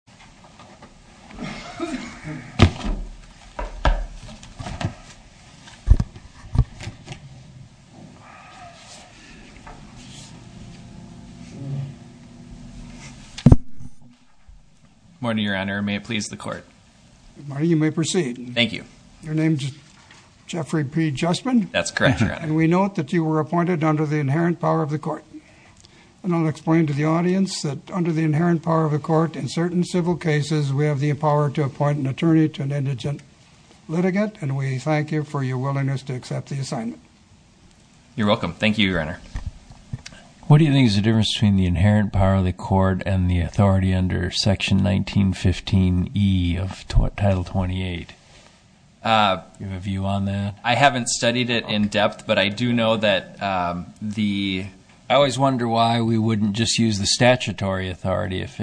Jeffrey P. Juspin v. Nancy A. Berryhill Good morning, Your Honor. May it please the Court? Good morning. You may proceed. Thank you. Your name's Jeffrey P. Juspin? That's correct, Your Honor. And we note that you were appointed under the inherent power of the Court. And I'll explain to the audience that under the inherent power of the Court, in certain civil cases, we have the power to appoint an attorney to an indigent litigant, and we thank you for your willingness to accept the assignment. You're welcome. Thank you, Your Honor. What do you think is the difference between the inherent power of the Court and the authority under Section 1915E of Title 28? Do you have a view on that? I haven't studied it in depth, but I do know that the – I always wonder why we wouldn't just use the statutory authority. If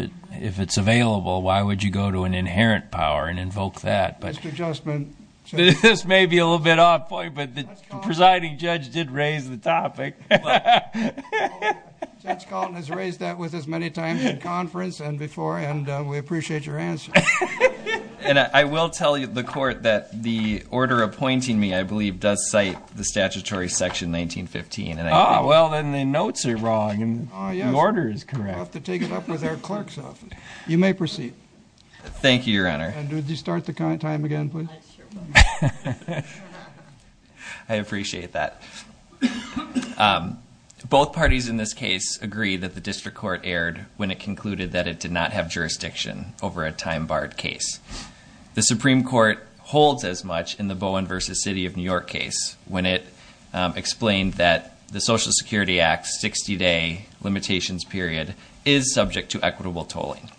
it's available, why would you go to an inherent power and invoke that? Mr. Juspin – This may be a little bit off point, but the presiding judge did raise the topic. Judge Kalten has raised that with us many times in conference and before, and we appreciate your answer. And I will tell the Court that the order appointing me, I believe, does cite the statutory Section 1915. Ah, well, then the notes are wrong and the order is correct. We'll have to take it up with our clerks often. You may proceed. Thank you, Your Honor. And would you start the time again, please? I appreciate that. Both parties in this case agree that the district court erred when it concluded that it did not have jurisdiction over a time-barred case. The Supreme Court holds as much in the Bowen v. City of New York case when it explained that the Social Security Act's 60-day limitations period is subject to equitable tolling.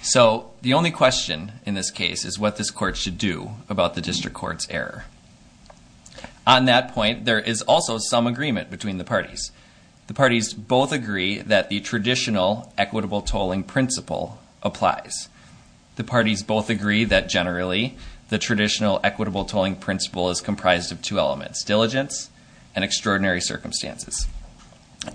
So the only question in this case is what this court should do about the district court's error. On that point, there is also some agreement between the parties. The parties both agree that the traditional equitable tolling principle applies. The parties both agree that, generally, the traditional equitable tolling principle is comprised of two elements, diligence and extraordinary circumstances.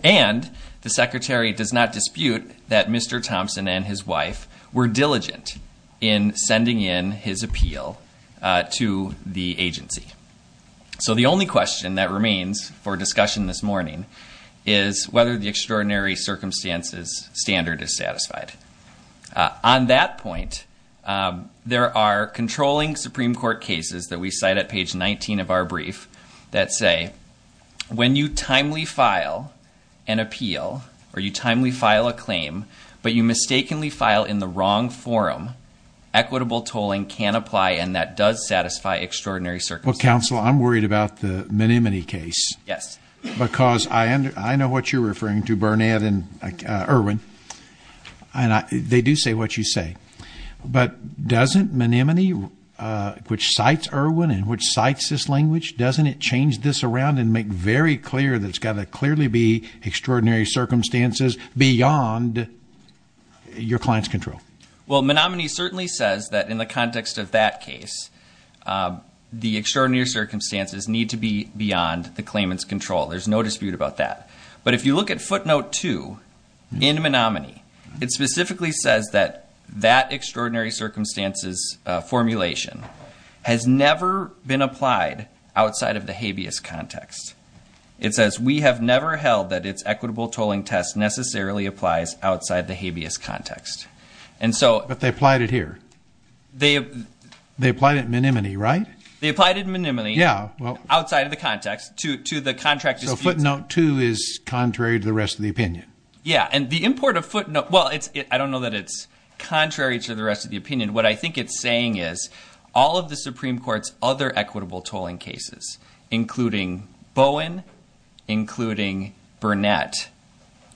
And the Secretary does not dispute that Mr. Thompson and his wife were diligent in sending in his appeal to the agency. So the only question that remains for discussion this morning is whether the extraordinary circumstances standard is satisfied. On that point, there are controlling Supreme Court cases that we cite at page 19 of our brief that say, when you timely file an appeal or you timely file a claim, but you mistakenly file in the wrong forum, equitable tolling can apply and that does satisfy extraordinary circumstances. Well, counsel, I'm worried about the Menominee case. Yes. Because I know what you're referring to, Burnett and Irwin, and they do say what you say. But doesn't Menominee, which cites Irwin and which cites this language, doesn't it change this around and make very clear that it's got to clearly be extraordinary circumstances beyond your client's control? Well, Menominee certainly says that in the context of that case, the extraordinary circumstances need to be beyond the claimant's control. There's no dispute about that. But if you look at footnote 2 in Menominee, it specifically says that that extraordinary circumstances formulation has never been applied outside of the habeas context. It says, we have never held that its equitable tolling test necessarily applies outside the habeas context. But they applied it here. They applied it in Menominee, right? They applied it in Menominee outside of the context to the contract dispute. So footnote 2 is contrary to the rest of the opinion. Yeah, and the import of footnote, well, I don't know that it's contrary to the rest of the opinion. What I think it's saying is all of the Supreme Court's other equitable tolling cases, including Bowen, including Burnett,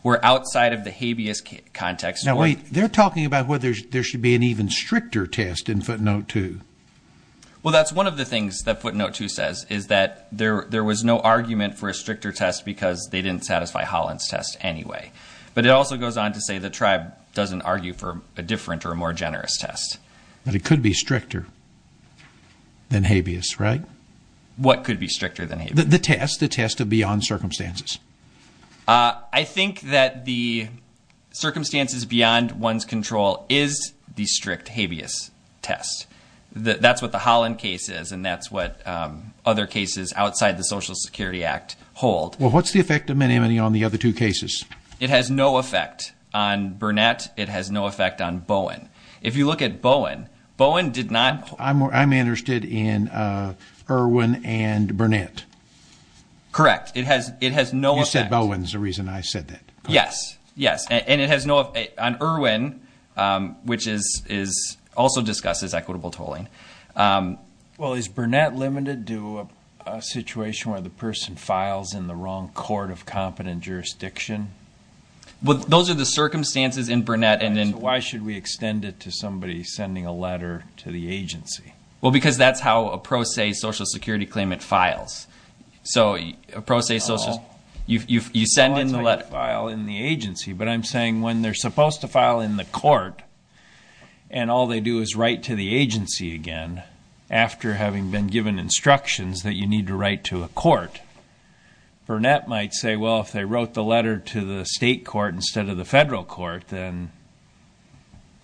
were outside of the habeas context. Now, wait. They're talking about whether there should be an even stricter test in footnote 2. Well, that's one of the things that footnote 2 says, is that there was no argument for a stricter test because they didn't satisfy Holland's test anyway. But it also goes on to say the tribe doesn't argue for a different or more generous test. But it could be stricter than habeas, right? What could be stricter than habeas? The test, the test of beyond circumstances. I think that the circumstances beyond one's control is the strict habeas test. That's what the Holland case is, and that's what other cases outside the Social Security Act hold. Well, what's the effect of Menominee on the other two cases? It has no effect on Burnett. It has no effect on Bowen. If you look at Bowen, Bowen did not hold. I'm interested in Irwin and Burnett. Correct. It has no effect. You said Bowen is the reason I said that. Yes, yes. And it has no effect on Irwin, which is also discussed as equitable tolling. Well, is Burnett limited to a situation where the person files in the wrong court of competent jurisdiction? Those are the circumstances in Burnett. Why should we extend it to somebody sending a letter to the agency? Well, because that's how a pro se Social Security claimant files. So a pro se Social Security claimant, you send in the letter. It's not like you file in the agency, but I'm saying when they're supposed to file in the court and all they do is write to the agency again, after having been given instructions that you need to write to a court, Burnett might say, well, if they wrote the letter to the state court instead of the federal court, then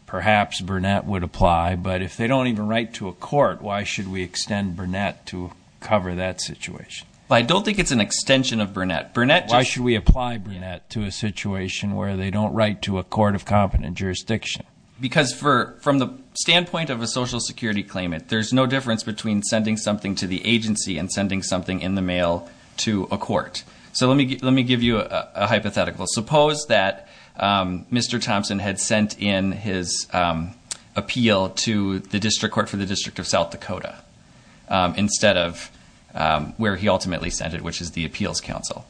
perhaps Burnett would apply. But if they don't even write to a court, why should we extend Burnett to cover that situation? I don't think it's an extension of Burnett. Why should we apply Burnett to a situation where they don't write to a court of competent jurisdiction? Because from the standpoint of a Social Security claimant, there's no difference between sending something to the agency and sending something in the mail to a court. So let me give you a hypothetical. Suppose that Mr. Thompson had sent in his appeal to the district court for the District of South Dakota instead of where he ultimately sent it, which is the Appeals Council.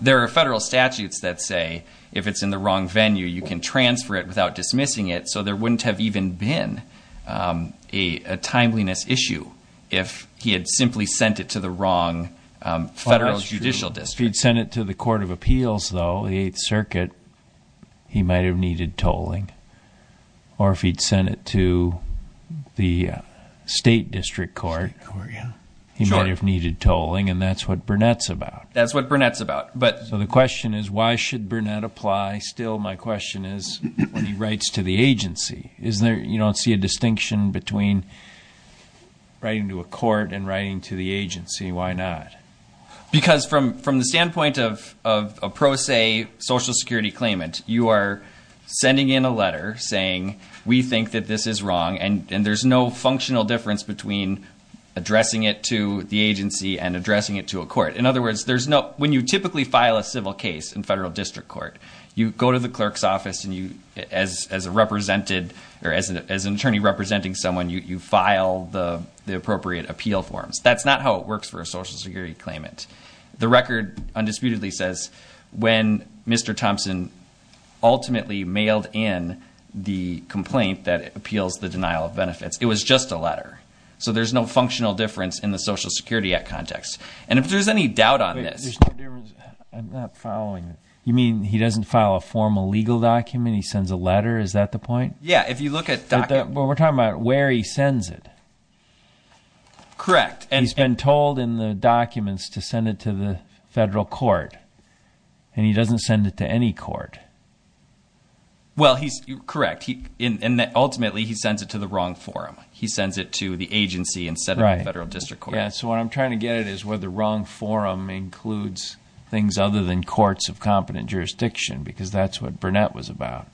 There are federal statutes that say if it's in the wrong venue, you can transfer it without dismissing it, so there wouldn't have even been a timeliness issue if he had simply sent it to the wrong federal judicial district. If he'd sent it to the Court of Appeals, though, the Eighth Circuit, he might have needed tolling. Or if he'd sent it to the state district court, he might have needed tolling, and that's what Burnett's about. That's what Burnett's about. So the question is, why should Burnett apply? Still, my question is, when he writes to the agency, you don't see a distinction between writing to a court and writing to the agency. Why not? Because from the standpoint of a pro se Social Security claimant, you are sending in a letter saying we think that this is wrong, and there's no functional difference between addressing it to the agency and addressing it to a court. In other words, when you typically file a civil case in federal district court, you go to the clerk's office, and as an attorney representing someone, you file the appropriate appeal forms. That's not how it works for a Social Security claimant. The record undisputedly says when Mr. Thompson ultimately mailed in the complaint that appeals the denial of benefits. It was just a letter. So there's no functional difference in the Social Security Act context. And if there's any doubt on this. I'm not following. You mean he doesn't file a formal legal document? He sends a letter? Is that the point? Yeah, if you look at documents. We're talking about where he sends it. Correct. He's been told in the documents to send it to the federal court, and he doesn't send it to any court. Well, correct. Ultimately, he sends it to the wrong forum. He sends it to the agency instead of the federal district court. So what I'm trying to get at is where the wrong forum includes things other than courts of competent jurisdiction, because that's what Burnett was about.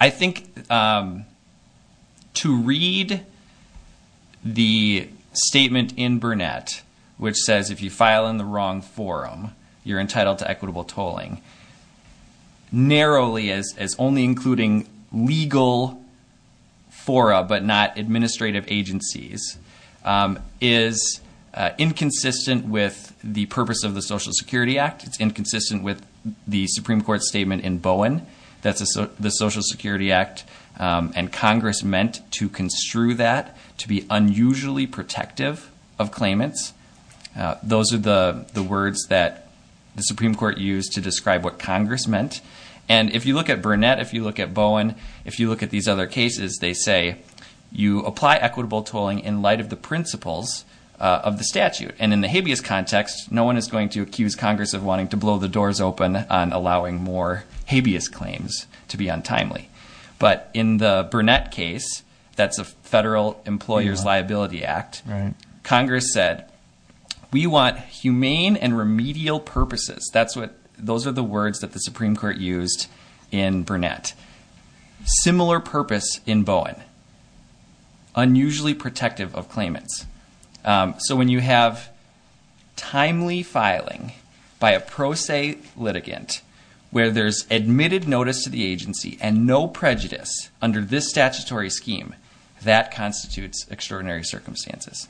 I think to read the statement in Burnett, which says if you file in the wrong forum, you're entitled to equitable tolling, narrowly as only including legal fora but not administrative agencies, is inconsistent with the purpose of the Social Security Act. It's inconsistent with the Supreme Court statement in Bowen, the Social Security Act, and Congress meant to construe that to be unusually protective of claimants. Those are the words that the Supreme Court used to describe what Congress meant. And if you look at Burnett, if you look at Bowen, if you look at these other cases, they say you apply equitable tolling in light of the principles of the statute. And in the habeas context, no one is going to accuse Congress of wanting to blow the doors open on allowing more habeas claims to be untimely. But in the Burnett case, that's a federal employer's liability act, Congress said, we want humane and remedial purposes. Those are the words that the Supreme Court used in Burnett. Similar purpose in Bowen. Unusually protective of claimants. So when you have timely filing by a pro se litigant, where there's admitted notice to the agency, and no prejudice under this statutory scheme, that constitutes extraordinary circumstances.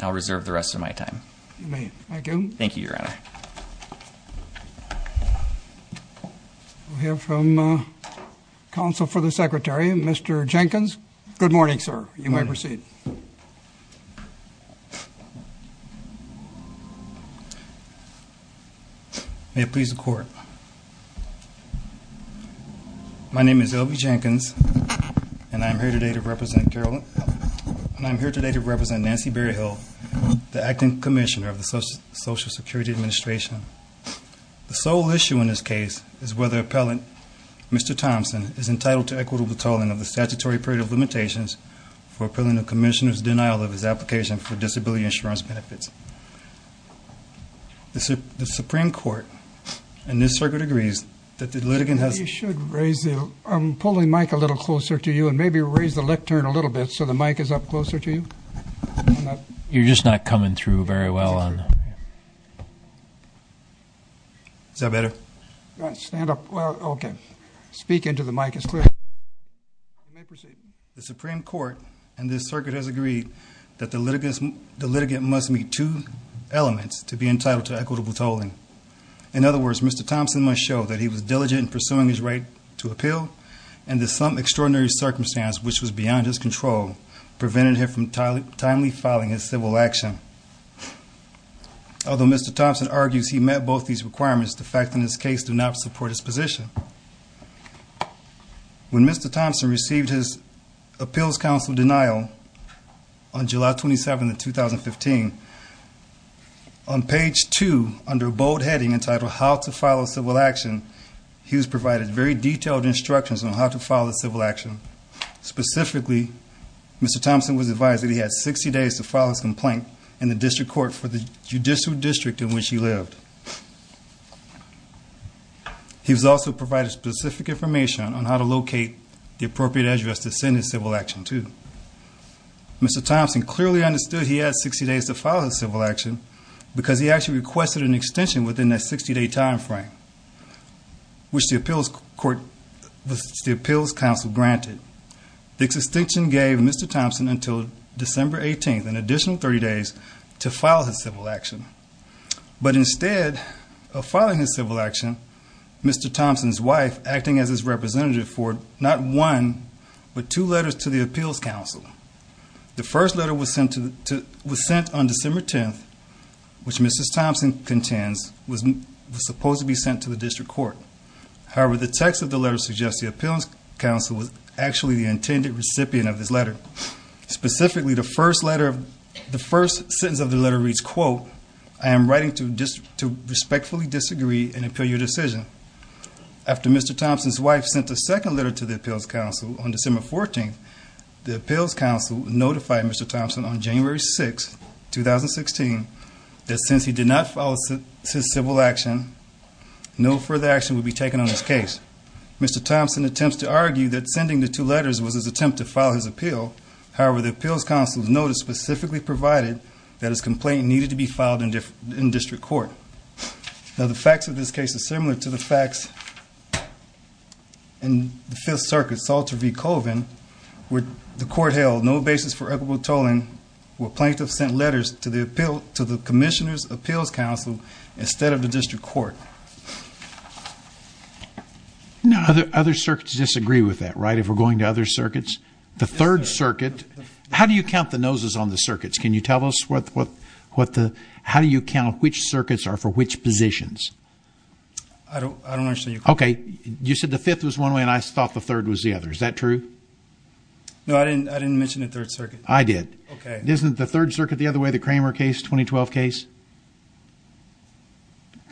I'll reserve the rest of my time. You may. Thank you. Thank you, Your Honor. We'll hear from Counsel for the Secretary, Mr. Jenkins. Good morning, sir. You may proceed. May it please the Court. My name is L.B. Jenkins, and I'm here today to represent Nancy Berryhill, the Acting Commissioner of the Social Security Administration. The sole issue in this case is whether appellant Mr. Thompson is entitled to equitable tolling of the statutory period of limitations for appealing the Commissioner's denial of his application for disability insurance benefits. The Supreme Court in this circuit agrees that the litigant has- You should raise the- I'm pulling the mic a little closer to you, and maybe raise the lectern a little bit so the mic is up closer to you. You're just not coming through very well on the- Is that better? All right, stand up. Well, okay. Speak into the mic. It's clear. You may proceed. The Supreme Court in this circuit has agreed that the litigant must meet two elements to be entitled to equitable tolling. In other words, Mr. Thompson must show that he was diligent in pursuing his right to appeal and that some extraordinary circumstance, which was beyond his control, prevented him from timely filing his civil action. Although Mr. Thompson argues he met both these requirements, the facts in this case do not support his position. When Mr. Thompson received his appeals counsel denial on July 27, 2015, on page 2, under a bold heading entitled, How to File a Civil Action, he was provided very detailed instructions on how to file a civil action. Specifically, Mr. Thompson was advised that he had 60 days to file his complaint in the district court for the judicial district in which he lived. He was also provided specific information on how to locate the appropriate address to send his civil action to. Mr. Thompson clearly understood he had 60 days to file his civil action because he actually requested an extension within that 60-day time frame, which the appeals counsel granted. The extension gave Mr. Thompson until December 18th, an additional 30 days, to file his civil action. But instead of filing his civil action, Mr. Thompson's wife, acting as his representative for not one, but two letters to the appeals counsel. The first letter was sent on December 10th, which Mrs. Thompson contends was supposed to be sent to the district court. However, the text of the letter suggests the appeals counsel was actually the intended recipient of this letter. Specifically, the first sentence of the letter reads, quote, I am writing to respectfully disagree and appeal your decision. After Mr. Thompson's wife sent the second letter to the appeals counsel on December 14th, the appeals counsel notified Mr. Thompson on January 6, 2016, that since he did not file his civil action, no further action would be taken on this case. Mr. Thompson attempts to argue that sending the two letters was his attempt to file his appeal. However, the appeals counsel's notice specifically provided that his complaint needed to be filed in district court. Now, the facts of this case are similar to the facts in the Fifth Circuit, Salter v. Colvin, where the court held no basis for equitable tolling and where plaintiffs sent letters to the commissioner's appeals counsel instead of the district court. Other circuits disagree with that, right, if we're going to other circuits? The Third Circuit, how do you count the noses on the circuits? Can you tell us how do you count which circuits are for which positions? I don't understand your question. Okay, you said the Fifth was one way and I thought the Third was the other. Is that true? No, I didn't mention the Third Circuit. I did. Okay. Isn't the Third Circuit the other way, the Kramer case, 2012 case?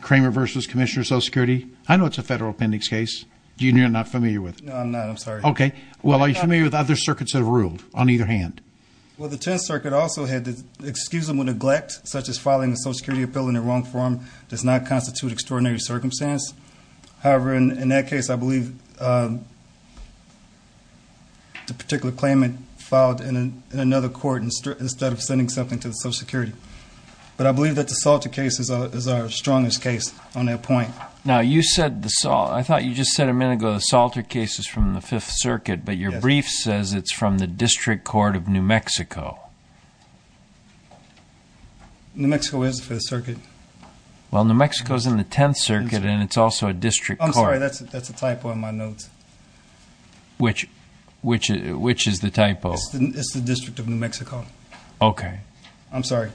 Kramer v. Commissioner of Social Security. I know it's a federal appendix case. You're not familiar with it? No, I'm not. I'm sorry. Okay. Well, are you familiar with other circuits that have ruled on either hand? Well, the Tenth Circuit also had to excuse him with neglect, such as filing a social security appeal in the wrong form does not constitute extraordinary circumstance. However, in that case, I believe the particular claimant filed in another court instead of sending something to the Social Security. But I believe that the Salter case is our strongest case on that point. Now, I thought you just said a minute ago the Salter case is from the Fifth Circuit, but your brief says it's from the District Court of New Mexico. New Mexico is the Fifth Circuit. Well, New Mexico is in the Tenth Circuit, and it's also a district court. I'm sorry. That's a typo in my notes. Which is the typo? It's the District of New Mexico. Okay. I'm sorry.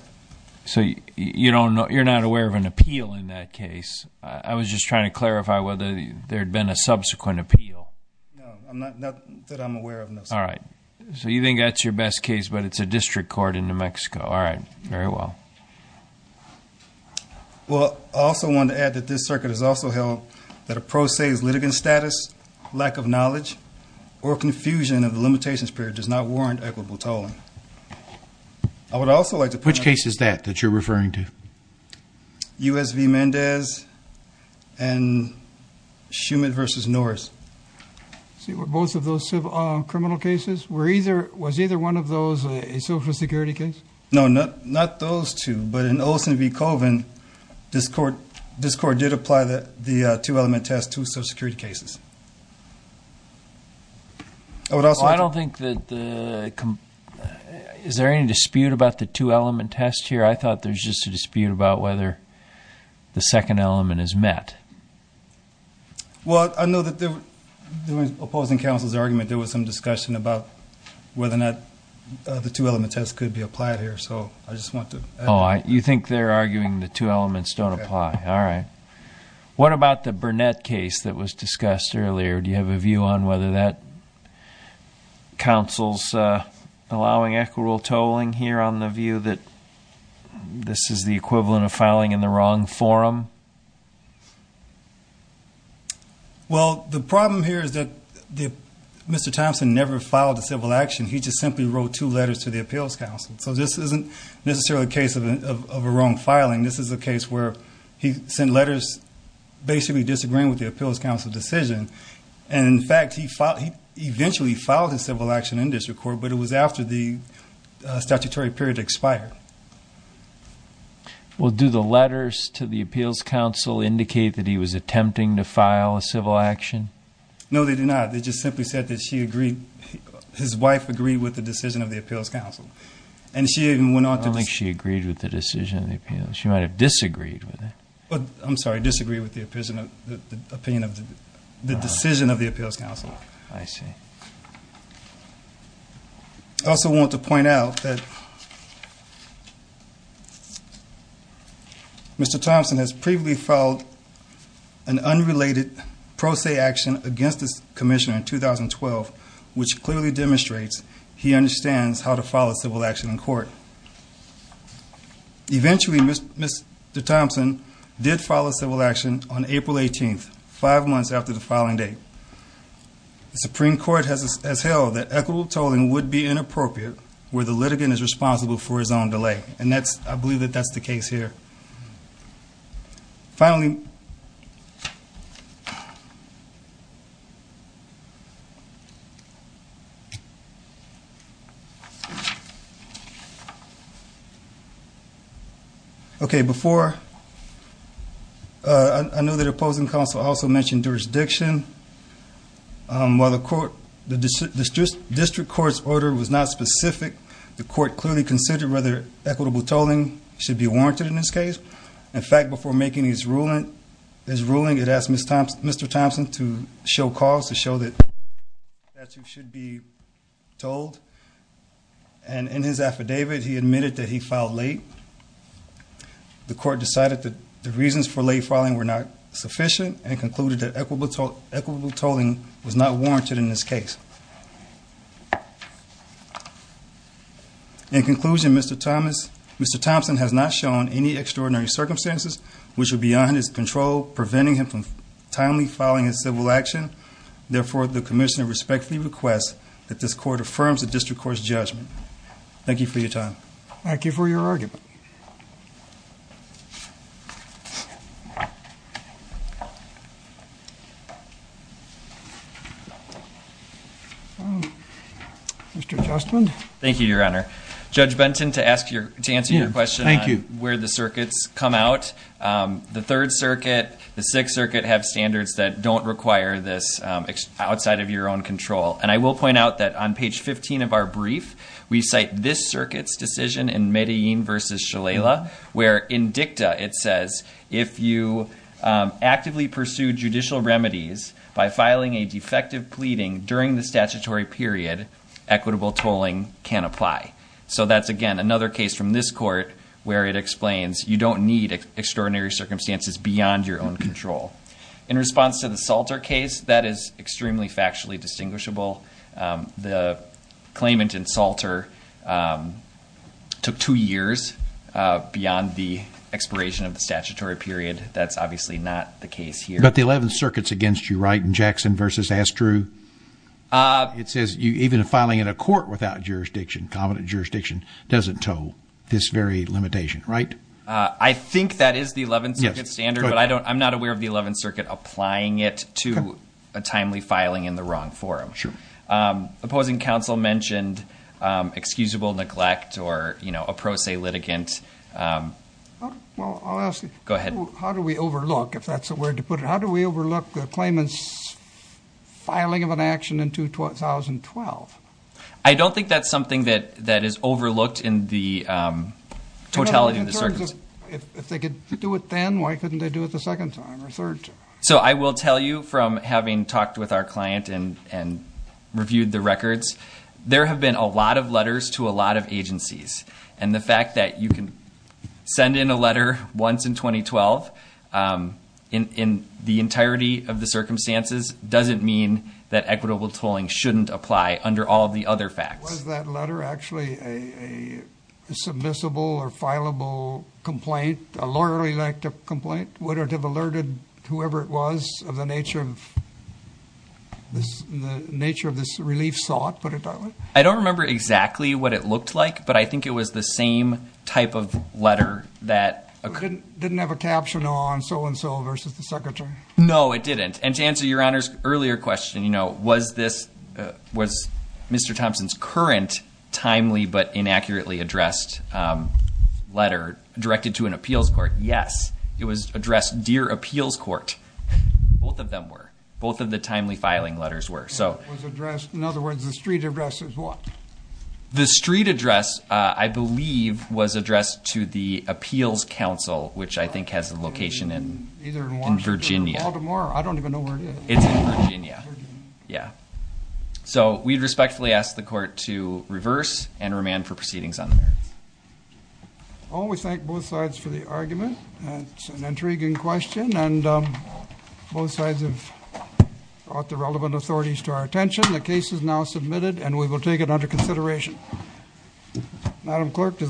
So you're not aware of an appeal in that case? I was just trying to clarify whether there had been a subsequent appeal. No, not that I'm aware of, no. All right. All right. Very well. Well, I also want to add that this circuit has also held that a pro se litigant status, lack of knowledge, or confusion of the limitations period does not warrant equitable tolling. I would also like to point out. Which case is that that you're referring to? U.S. v. Mendez and Schumann v. Norris. Were both of those criminal cases? Was either one of those a Social Security case? No, not those two. But in Olson v. Colvin, this court did apply the two-element test to Social Security cases. I don't think that the... Is there any dispute about the two-element test here? I thought there was just a dispute about whether the second element is met. Well, I know that there was, opposing counsel's argument, there was some discussion about whether or not the two-element test could be applied here. So I just want to... Oh, you think they're arguing the two elements don't apply. All right. What about the Burnett case that was discussed earlier? Do you have a view on whether that counsel's allowing equitable tolling here, on the view that this is the equivalent of filing in the wrong forum? Well, the problem here is that Mr. Thompson never filed a civil action. He just simply wrote two letters to the Appeals Council. So this isn't necessarily a case of a wrong filing. This is a case where he sent letters basically disagreeing with the Appeals Council decision. And, in fact, he eventually filed his civil action in this court, but it was after the statutory period expired. Well, do the letters to the Appeals Council indicate that he was attempting to file a civil action? No, they do not. They just simply said that she agreed, his wife agreed with the decision of the Appeals Council. And she even went on to... I don't think she agreed with the decision of the Appeals. She might have disagreed with it. I'm sorry, disagreed with the decision of the Appeals Council. I see. I also want to point out that Mr. Thompson has previously filed an unrelated pro se action against this commission in 2012, which clearly demonstrates he understands how to file a civil action in court. Eventually, Mr. Thompson did file a civil action on April 18th, five months after the filing date. The Supreme Court has held that equitable tolling would be inappropriate where the litigant is responsible for his own delay. And I believe that that's the case here. Finally... Okay, before... I know the opposing counsel also mentioned jurisdiction. While the district court's order was not specific, the court clearly considered whether equitable tolling should be warranted in this case. In fact, before making his ruling, it asked Mr. Thompson to show cause, to show that the statute should be tolled. And in his affidavit, he admitted that he filed late. The court decided that the reasons for late filing were not sufficient and concluded that equitable tolling was not warranted in this case. In conclusion, Mr. Thompson has not shown any extraordinary circumstances which were beyond his control, preventing him from timely filing his civil action. Therefore, the commissioner respectfully requests that this court affirms the district court's judgment. Thank you for your time. Thank you for your argument. Mr. Justman? Thank you, Your Honor. Judge Benton, to answer your question on where the circuits come out, the Third Circuit, the Sixth Circuit have standards that don't require this outside of your own control. And I will point out that on page 15 of our brief, we cite this circuit's decision in Medellin v. Shalala, where in dicta it says, if you actively pursue judicial remedies by filing a defective pleading during the statutory period, equitable tolling can apply. So that's, again, another case from this court where it explains you don't need extraordinary circumstances beyond your own control. In response to the Salter case, that is extremely factually distinguishable. The claimant in Salter took two years beyond the expiration of the statutory period. That's obviously not the case here. But the Eleventh Circuit's against you, right, in Jackson v. Astrew? It says even filing in a court without jurisdiction, competent jurisdiction, doesn't toll this very limitation, right? I think that is the Eleventh Circuit's standard, but I'm not aware of the Eleventh Circuit applying it to a timely filing in the wrong forum. Sure. Opposing counsel mentioned excusable neglect or a pro se litigant. Well, I'll ask you. Go ahead. How do we overlook, if that's the word to put it, how do we overlook the claimant's filing of an action in 2012? I don't think that's something that is overlooked in the totality of the circumstances. If they could do it then, why couldn't they do it the second time or third time? So I will tell you from having talked with our client and reviewed the records, there have been a lot of letters to a lot of agencies. And the fact that you can send in a letter once in 2012 in the entirety of the circumstances doesn't mean that equitable tolling shouldn't apply under all of the other facts. Was that letter actually a submissible or fileable complaint, a lawyerly complaint? Would it have alerted whoever it was of the nature of this relief sought, put it that way? I don't remember exactly what it looked like, but I think it was the same type of letter that occurred. It didn't have a caption on so-and-so versus the secretary? No, it didn't. And to answer Your Honor's earlier question, was Mr. Thompson's current timely but inaccurately addressed letter directed to an appeals court? Yes. It was addressed dear appeals court. Both of them were. Both of the timely filing letters were. In other words, the street address is what? The street address, I believe, was addressed to the appeals council, which I think has a location in Virginia. I don't even know where it is. It's in Virginia. Yeah. So we respectfully ask the court to reverse and remand for proceedings on the merits. I want to thank both sides for the argument. It's an intriguing question, and both sides have brought the relevant authorities to our attention. The case is now submitted, and we will take it under consideration. Madam Clerk, does that...